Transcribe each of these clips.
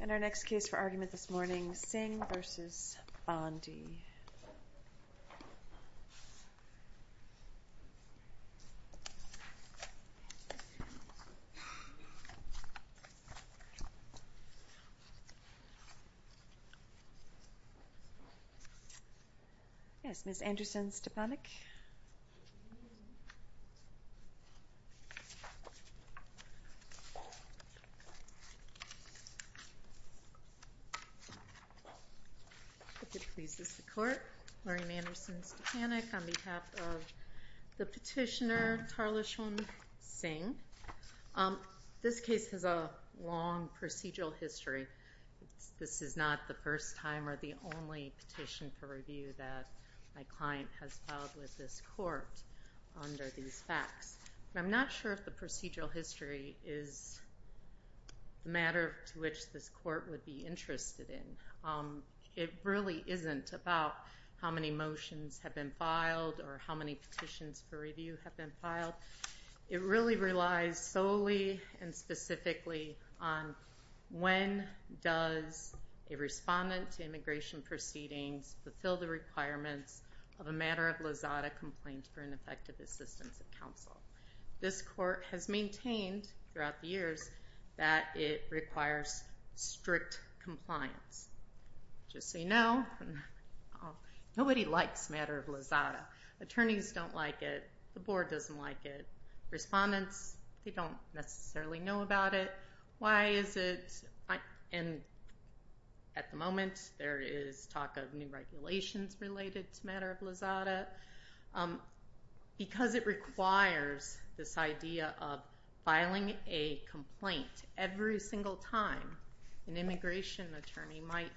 And our next case for argument this morning, Singh v. Bondi. Yes, Ms. Anderson-Stapanek. If it pleases the court, Maureen Anderson-Stapanek on behalf of the petitioner, Tarlochan Singh. This case has a long procedural history. This is not the first time or the only petition for review that my client has filed with this court under these facts. I'm not sure if the procedural history is a matter to which this court would be interested in. It really isn't about how many motions have been filed or how many petitions for review have been filed. It really relies solely and specifically on when does a respondent to immigration proceedings fulfill the requirements of a matter of lazada complaint for ineffective assistance of counsel. This court has maintained throughout the years that it requires strict compliance. Just so you know, nobody likes matter of lazada. Attorneys don't like it. The board doesn't like it. Respondents, they don't necessarily know about it. Why is it? And at the moment, there is talk of new regulations related to matter of lazada. Because it requires this idea of filing a complaint every single time, an immigration attorney might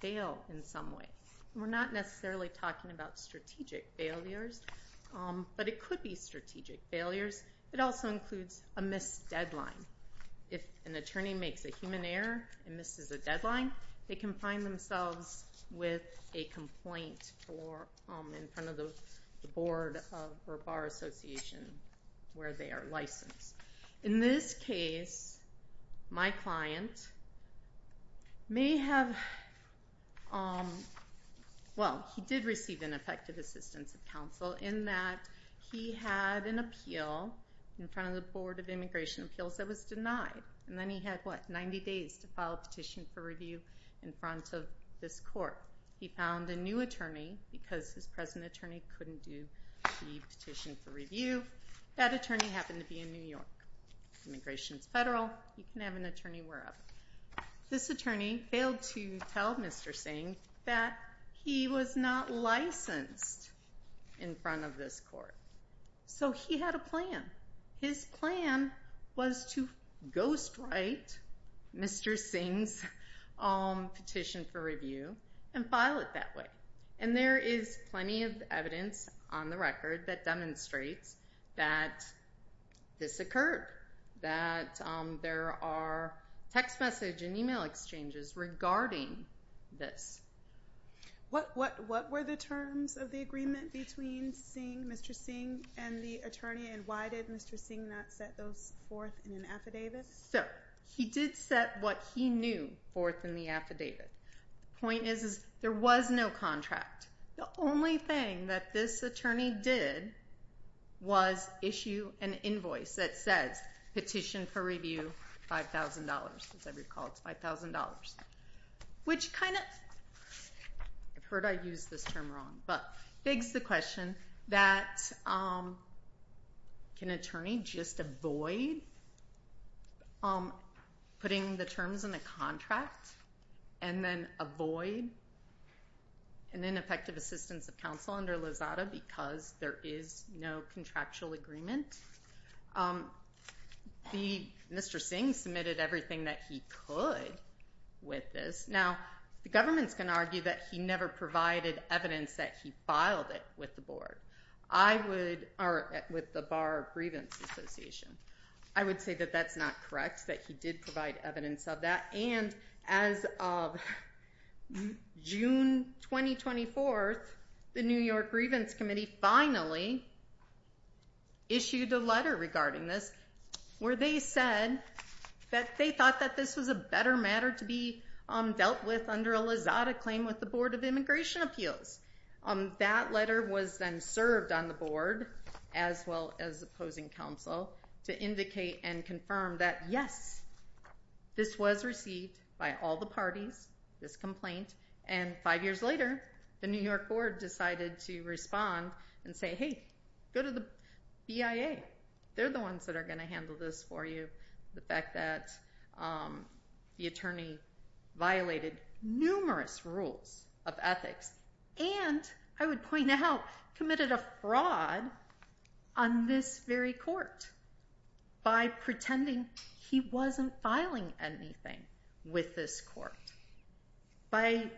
fail in some way. We're not necessarily talking about strategic failures, but it could be strategic failures. It also includes a missed deadline. If an attorney makes a human error and misses a deadline, they can find themselves with a complaint in front of the board or bar association where they are licensed. In this case, my client may have, well, he did receive ineffective assistance of counsel in that he had an appeal in front of the board of immigration appeals that was denied. And then he had, what, 90 days to file a petition for review in front of this court. He found a new attorney because his present attorney couldn't do the petition for review. That attorney happened to be in New York. Immigration is federal. You can have an attorney wherever. This attorney failed to tell Mr. Singh that he was not licensed in front of this court. So he had a plan. His plan was to ghostwrite Mr. Singh's petition for review and file it that way. And there is plenty of evidence on the record that demonstrates that this occurred, that there are text message and email exchanges regarding this. What were the terms of the agreement between Mr. Singh and the attorney, and why did Mr. Singh not set those forth in an affidavit? So he did set what he knew forth in the affidavit. The point is there was no contract. The only thing that this attorney did was issue an invoice that says petition for review $5,000. As I recall, it's $5,000, which kind of, I've heard I use this term wrong, but begs the question that can an attorney just avoid putting the terms in the contract and then avoid an ineffective assistance of counsel under Lozada because there is no contractual agreement? Mr. Singh submitted everything that he could with this. Now, the government's going to argue that he never provided evidence that he filed it with the board, or with the Bar Grievance Association. I would say that that's not correct, that he did provide evidence of that. And as of June 2024, the New York Grievance Committee finally issued a letter regarding this, where they said that they thought that this was a better matter to be dealt with under a Lozada claim with the Board of Immigration Appeals. That letter was then served on the board, as well as opposing counsel, to indicate and confirm that, yes, this was received by all the parties, this complaint. And five years later, the New York Board decided to respond and say, hey, go to the BIA. They're the ones that are going to handle this for you. The fact that the attorney violated numerous rules of ethics, and, I would point out, committed a fraud on this very court by pretending he wasn't filing anything with this court, by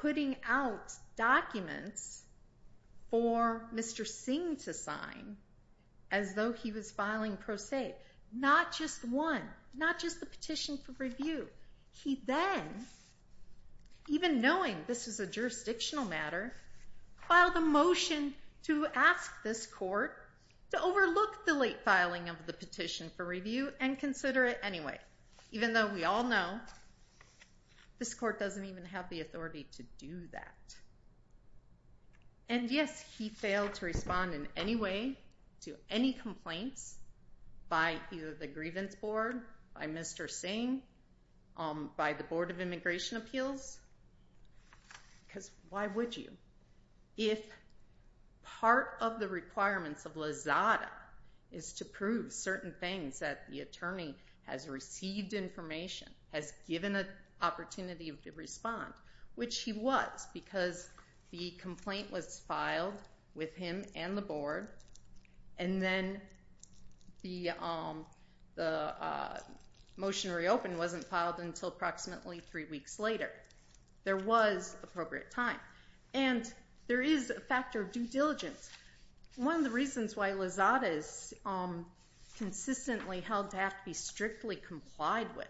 putting out documents for Mr. Singh to sign as though he was filing pro se, not just one, not just the petition for review. He then, even knowing this is a jurisdictional matter, filed a motion to ask this court to overlook the late filing of the petition for review and consider it anyway, even though we all know this court doesn't even have the authority to do that. And yes, he failed to respond in any way to any complaints by either the Grievance Board, by Mr. Singh, by the Board of Immigration Appeals, because why would you? If part of the requirements of LAZADA is to prove certain things, that the attorney has received information, has given an opportunity to respond, which he was because the complaint was filed with him and the board, and then the motion reopened wasn't filed until approximately three weeks later. There was appropriate time. And there is a factor of due diligence. One of the reasons why LAZADA is consistently held to have to be strictly complied with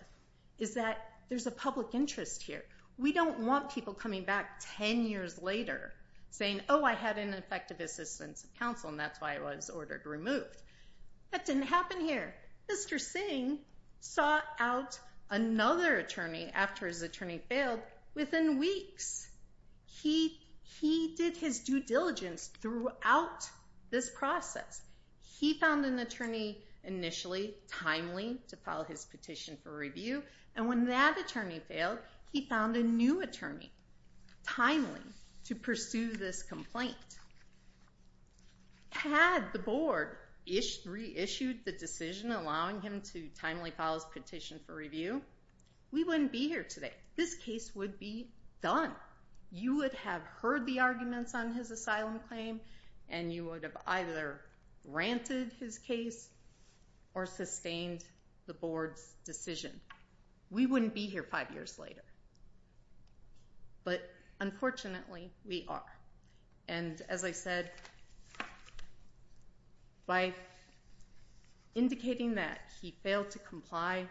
is that there's a public interest here. We don't want people coming back ten years later saying, oh, I had ineffective assistance of counsel and that's why I was ordered removed. That didn't happen here. Mr. Singh sought out another attorney after his attorney failed within weeks. He did his due diligence throughout this process. He found an attorney initially timely to file his petition for review, and when that attorney failed, he found a new attorney timely to pursue this complaint. Had the board reissued the decision allowing him to timely file his petition for review, we wouldn't be here today. This case would be done. You would have heard the arguments on his asylum claim, and you would have either granted his case or sustained the board's decision. We wouldn't be here five years later. But unfortunately, we are. And as I said, by indicating that he failed to comply,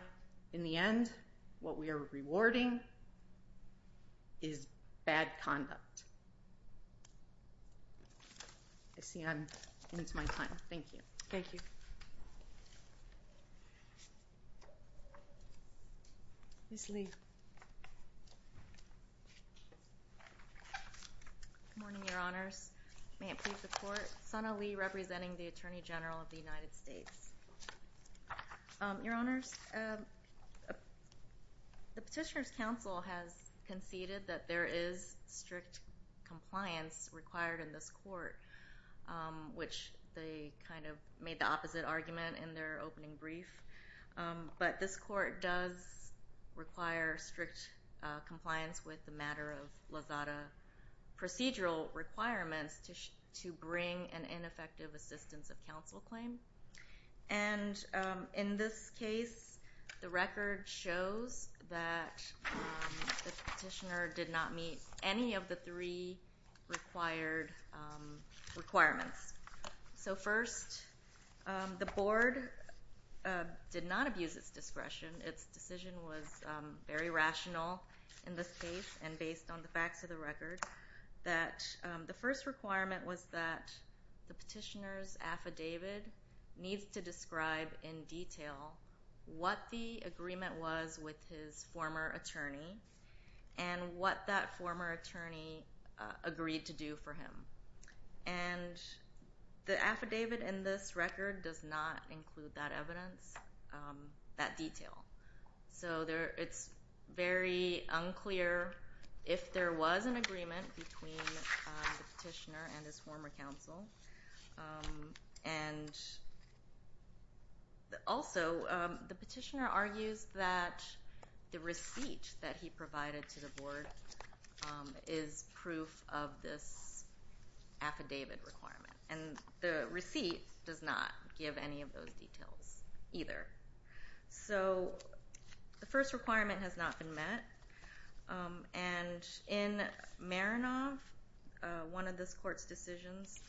in the end, what we are rewarding is bad conduct. I see I'm into my time. Thank you. Thank you. Ms. Lee. Good morning, Your Honors. May it please the Court. Sana Lee representing the Attorney General of the United States. Your Honors, the Petitioner's Counsel has conceded that there is strict compliance required in this court, which they kind of made the opposite argument in their opening brief. But this court does require strict compliance with the matter of LAZADA procedural requirements to bring an ineffective assistance of counsel claim. And in this case, the record shows that the petitioner did not meet any of the three required requirements. So first, the board did not abuse its discretion. Its decision was very rational in this case, and based on the facts of the record, the first requirement was that the petitioner's affidavit needs to describe in detail what the agreement was with his former attorney and what that former attorney agreed to do for him. And the affidavit in this record does not include that evidence, that detail. So it's very unclear if there was an agreement between the petitioner and his former counsel. And also, the petitioner argues that the receipt that he provided to the board is proof of this affidavit requirement. And the receipt does not give any of those details either. So the first requirement has not been met, and in Marinoff, one of this court's decisions,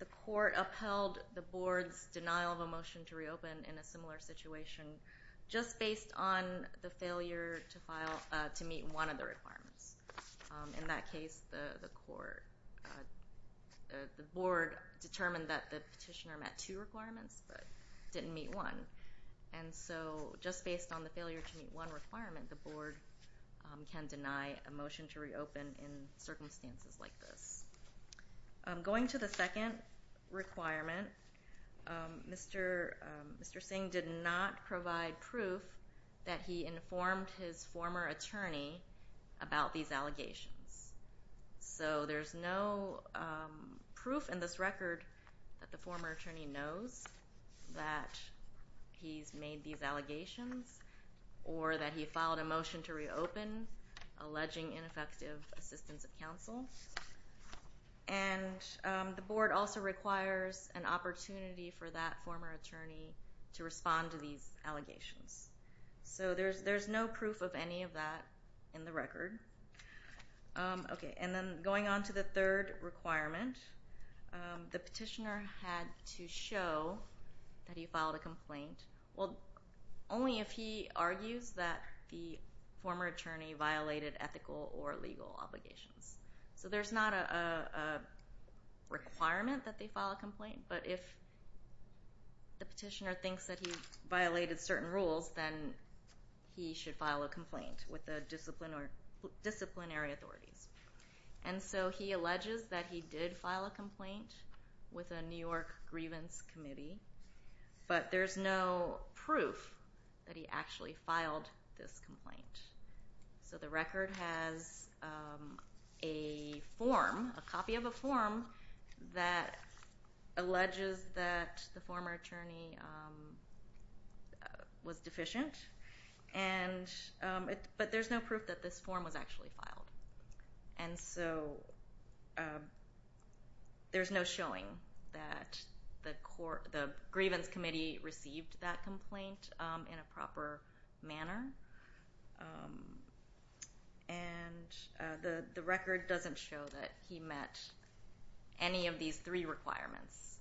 the court upheld the board's denial of a motion to reopen in a similar situation just based on the failure to meet one of the requirements. In that case, the board determined that the petitioner met two requirements but didn't meet one. And so just based on the failure to meet one requirement, the board can deny a motion to reopen in circumstances like this. Going to the second requirement, Mr. Singh did not provide proof that he informed his former attorney about these allegations. So there's no proof in this record that the former attorney knows that he's made these allegations or that he filed a motion to reopen alleging ineffective assistance of counsel. And the board also requires an opportunity for that former attorney to respond to these allegations. So there's no proof of any of that in the record. Okay, and then going on to the third requirement, the petitioner had to show that he filed a complaint. Well, only if he argues that the former attorney violated ethical or legal obligations. So there's not a requirement that they file a complaint, but if the petitioner thinks that he violated certain rules, then he should file a complaint with the disciplinary authorities. And so he alleges that he did file a complaint with a New York grievance committee, but there's no proof that he actually filed this complaint. So the record has a form, a copy of a form that alleges that the former attorney was deficient, but there's no proof that this form was actually filed. And so there's no showing that the grievance committee received that complaint in a proper manner. And the record doesn't show that he met any of these three requirements.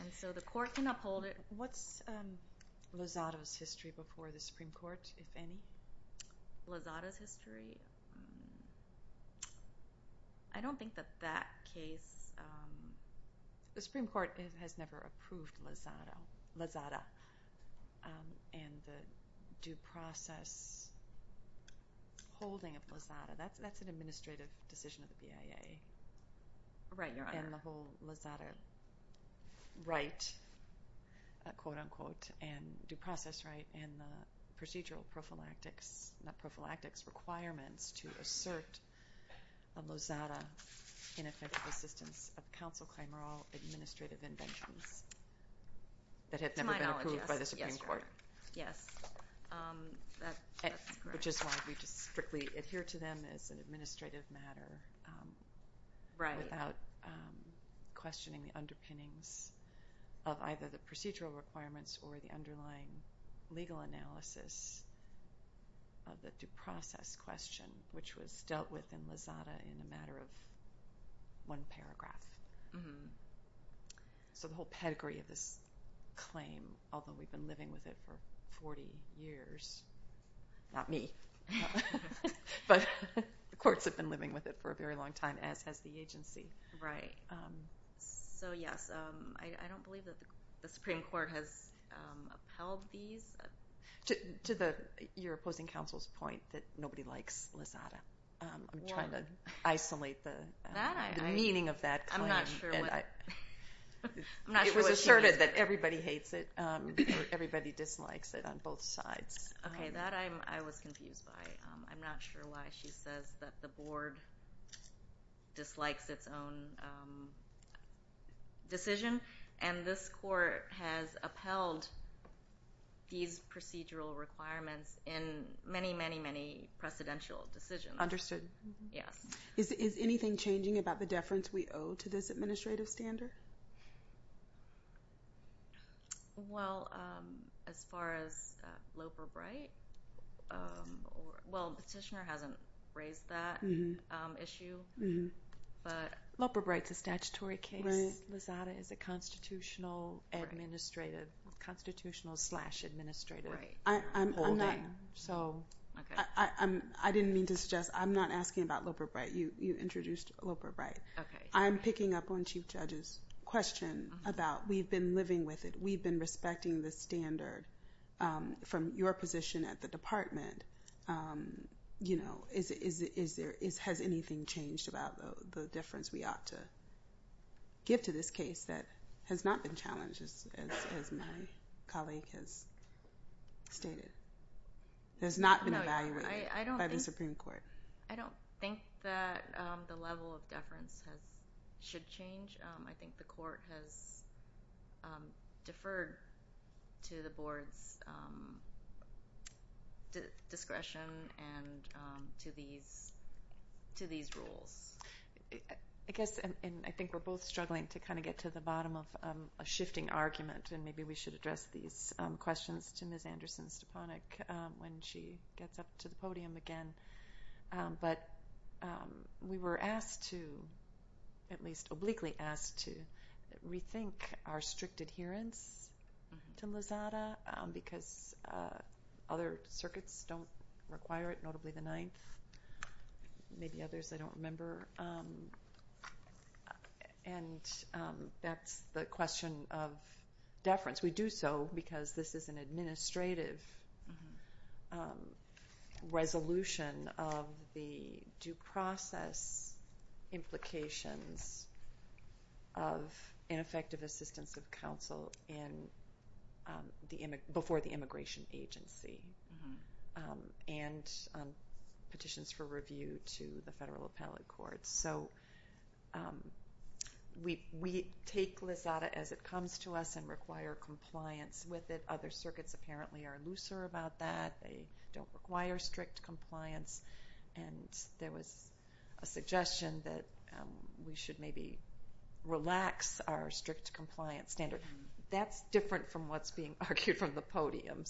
And so the court can uphold it. What's Lozada's history before the Supreme Court, if any? Lozada's history? I don't think that that case— The Supreme Court has never approved Lozada and the due process holding of Lozada. That's an administrative decision of the BIA. Right, Your Honor. And the whole Lozada right, quote-unquote, and due process right, and the procedural prophylactics—not prophylactics—requirements to assert a Lozada ineffective assistance of counsel crime are all administrative inventions that have never been approved by the Supreme Court. To my knowledge, yes. Yes, Your Honor. Yes. That's correct. Which is why we just strictly adhere to them as an administrative matter without questioning the underpinnings of either the procedural requirements or the underlying legal analysis of the due process question, which was dealt with in Lozada in a matter of one paragraph. So the whole pedigree of this claim, although we've been living with it for 40 years— not me, but the courts have been living with it for a very long time, as has the agency. Right. So, yes, I don't believe that the Supreme Court has upheld these. To your opposing counsel's point that nobody likes Lozada, I'm trying to isolate the meaning of that claim. I'm not sure what— It was asserted that everybody hates it or everybody dislikes it on both sides. Okay. That I was confused by. I'm not sure why she says that the board dislikes its own decision. And this court has upheld these procedural requirements in many, many, many precedential decisions. Understood. Yes. Is anything changing about the deference we owe to this administrative standard? Well, as far as Loper Bright—well, the petitioner hasn't raised that issue, but— Loper Bright's a statutory case. Lozada is a constitutional administrative—constitutional-slash-administrative. Right. I'm not— I didn't mean to suggest—I'm not asking about Loper Bright. You introduced Loper Bright. Okay. I'm picking up on Chief Judge's question about we've been living with it. We've been respecting the standard from your position at the department. You know, is there—has anything changed about the deference we ought to give to this case that has not been challenged, as my colleague has stated? Has not been evaluated by the Supreme Court? I don't think that the level of deference has—should change. I think the court has deferred to the board's discretion and to these—to these rules. I guess—and I think we're both struggling to kind of get to the bottom of a shifting argument, and maybe we should address these questions to Ms. Anderson-Stepanek when she gets up to the podium again. But we were asked to—at least obliquely asked to rethink our strict adherence to MOSADA because other circuits don't require it, notably the Ninth. Maybe others, I don't remember. And that's the question of deference. We do so because this is an administrative resolution of the due process implications of ineffective assistance of counsel in the—before the immigration agency and petitions for review to the federal appellate courts. So we take MOSADA as it comes to us and require compliance with it. Other circuits apparently are looser about that. They don't require strict compliance. And there was a suggestion that we should maybe relax our strict compliance standard. That's different from what's being argued from the podium.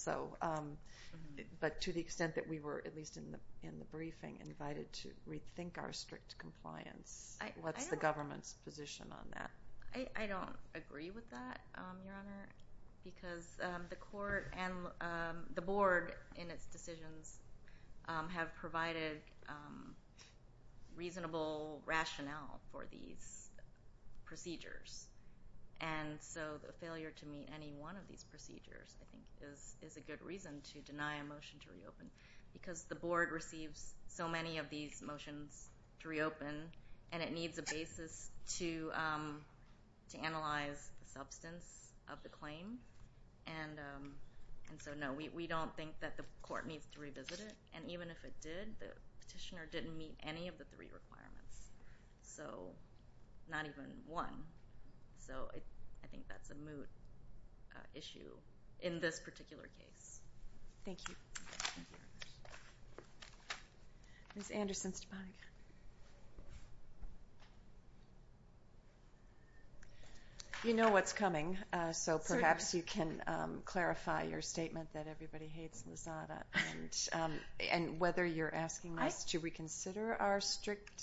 But to the extent that we were, at least in the briefing, invited to rethink our strict compliance, what's the government's position on that? I don't agree with that, Your Honor, because the court and the board in its decisions have provided reasonable rationale for these procedures. And so the failure to meet any one of these procedures, I think, is a good reason to deny a motion to reopen because the board receives so many of these motions to reopen, and it needs a basis to analyze the substance of the claim. And so, no, we don't think that the court needs to revisit it. And even if it did, the petitioner didn't meet any of the three requirements, so not even one. So I think that's a moot issue in this particular case. Thank you. Ms. Anderson-Stevanoff. You know what's coming, so perhaps you can clarify your statement that everybody hates Lozada and whether you're asking us to reconsider our strict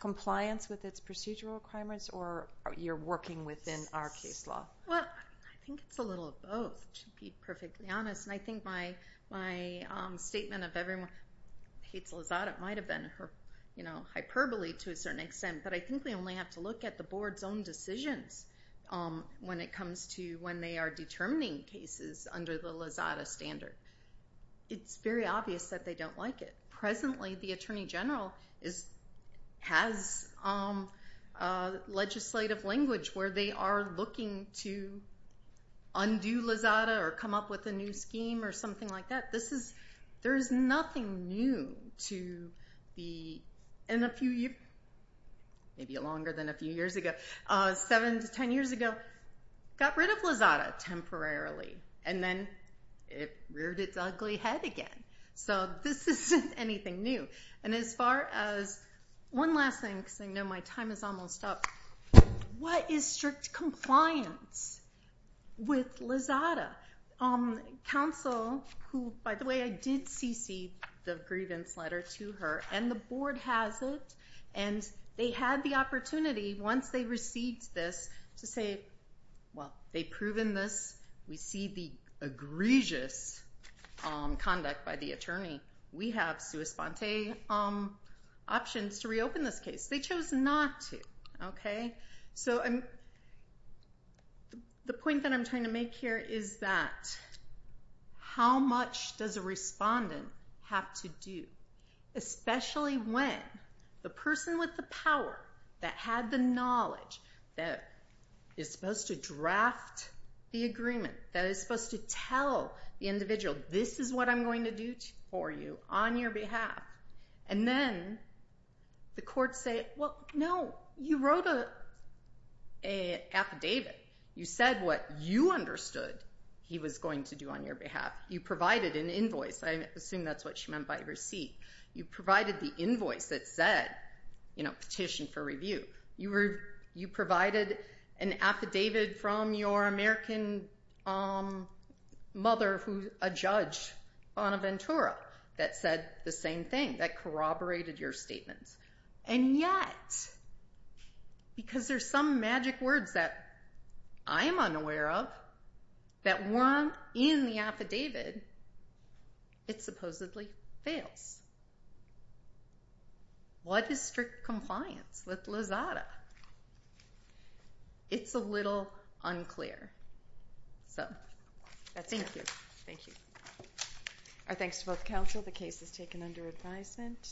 compliance with its procedural requirements or you're working within our case law. Well, I think it's a little of both, to be perfectly honest. And I think my statement of everyone hates Lozada might have been hyperbole to a certain extent, but I think we only have to look at the board's own decisions when it comes to when they are determining cases under the Lozada standard. It's very obvious that they don't like it. Presently, the Attorney General has legislative language where they are looking to undo Lozada or come up with a new scheme or something like that. There is nothing new to be in a few years, maybe longer than a few years ago. Seven to ten years ago, got rid of Lozada temporarily, and then it reared its ugly head again. So this isn't anything new. And as far as one last thing, because I know my time is almost up, what is strict compliance with Lozada? Counsel, who, by the way, I did cc the grievance letter to her, and the board has it, and they had the opportunity, once they received this, to say, well, they've proven this. We see the egregious conduct by the attorney. We have sua sponte options to reopen this case. They chose not to, okay? So the point that I'm trying to make here is that how much does a respondent have to do, especially when the person with the power that had the knowledge that is supposed to draft the agreement, that is supposed to tell the individual, this is what I'm going to do for you on your behalf, and then the courts say, well, no, you wrote an affidavit. You said what you understood he was going to do on your behalf. You provided an invoice. I assume that's what she meant by receipt. You provided the invoice that said, you know, petition for review. You provided an affidavit from your American mother, a judge on Ventura, that said the same thing, that corroborated your statements, and yet, because there's some magic words that I'm unaware of, that weren't in the affidavit, it supposedly fails. What is strict compliance with Lozada? It's a little unclear. So that's it. Thank you. Our thanks to both counsel. The case is taken under advisement.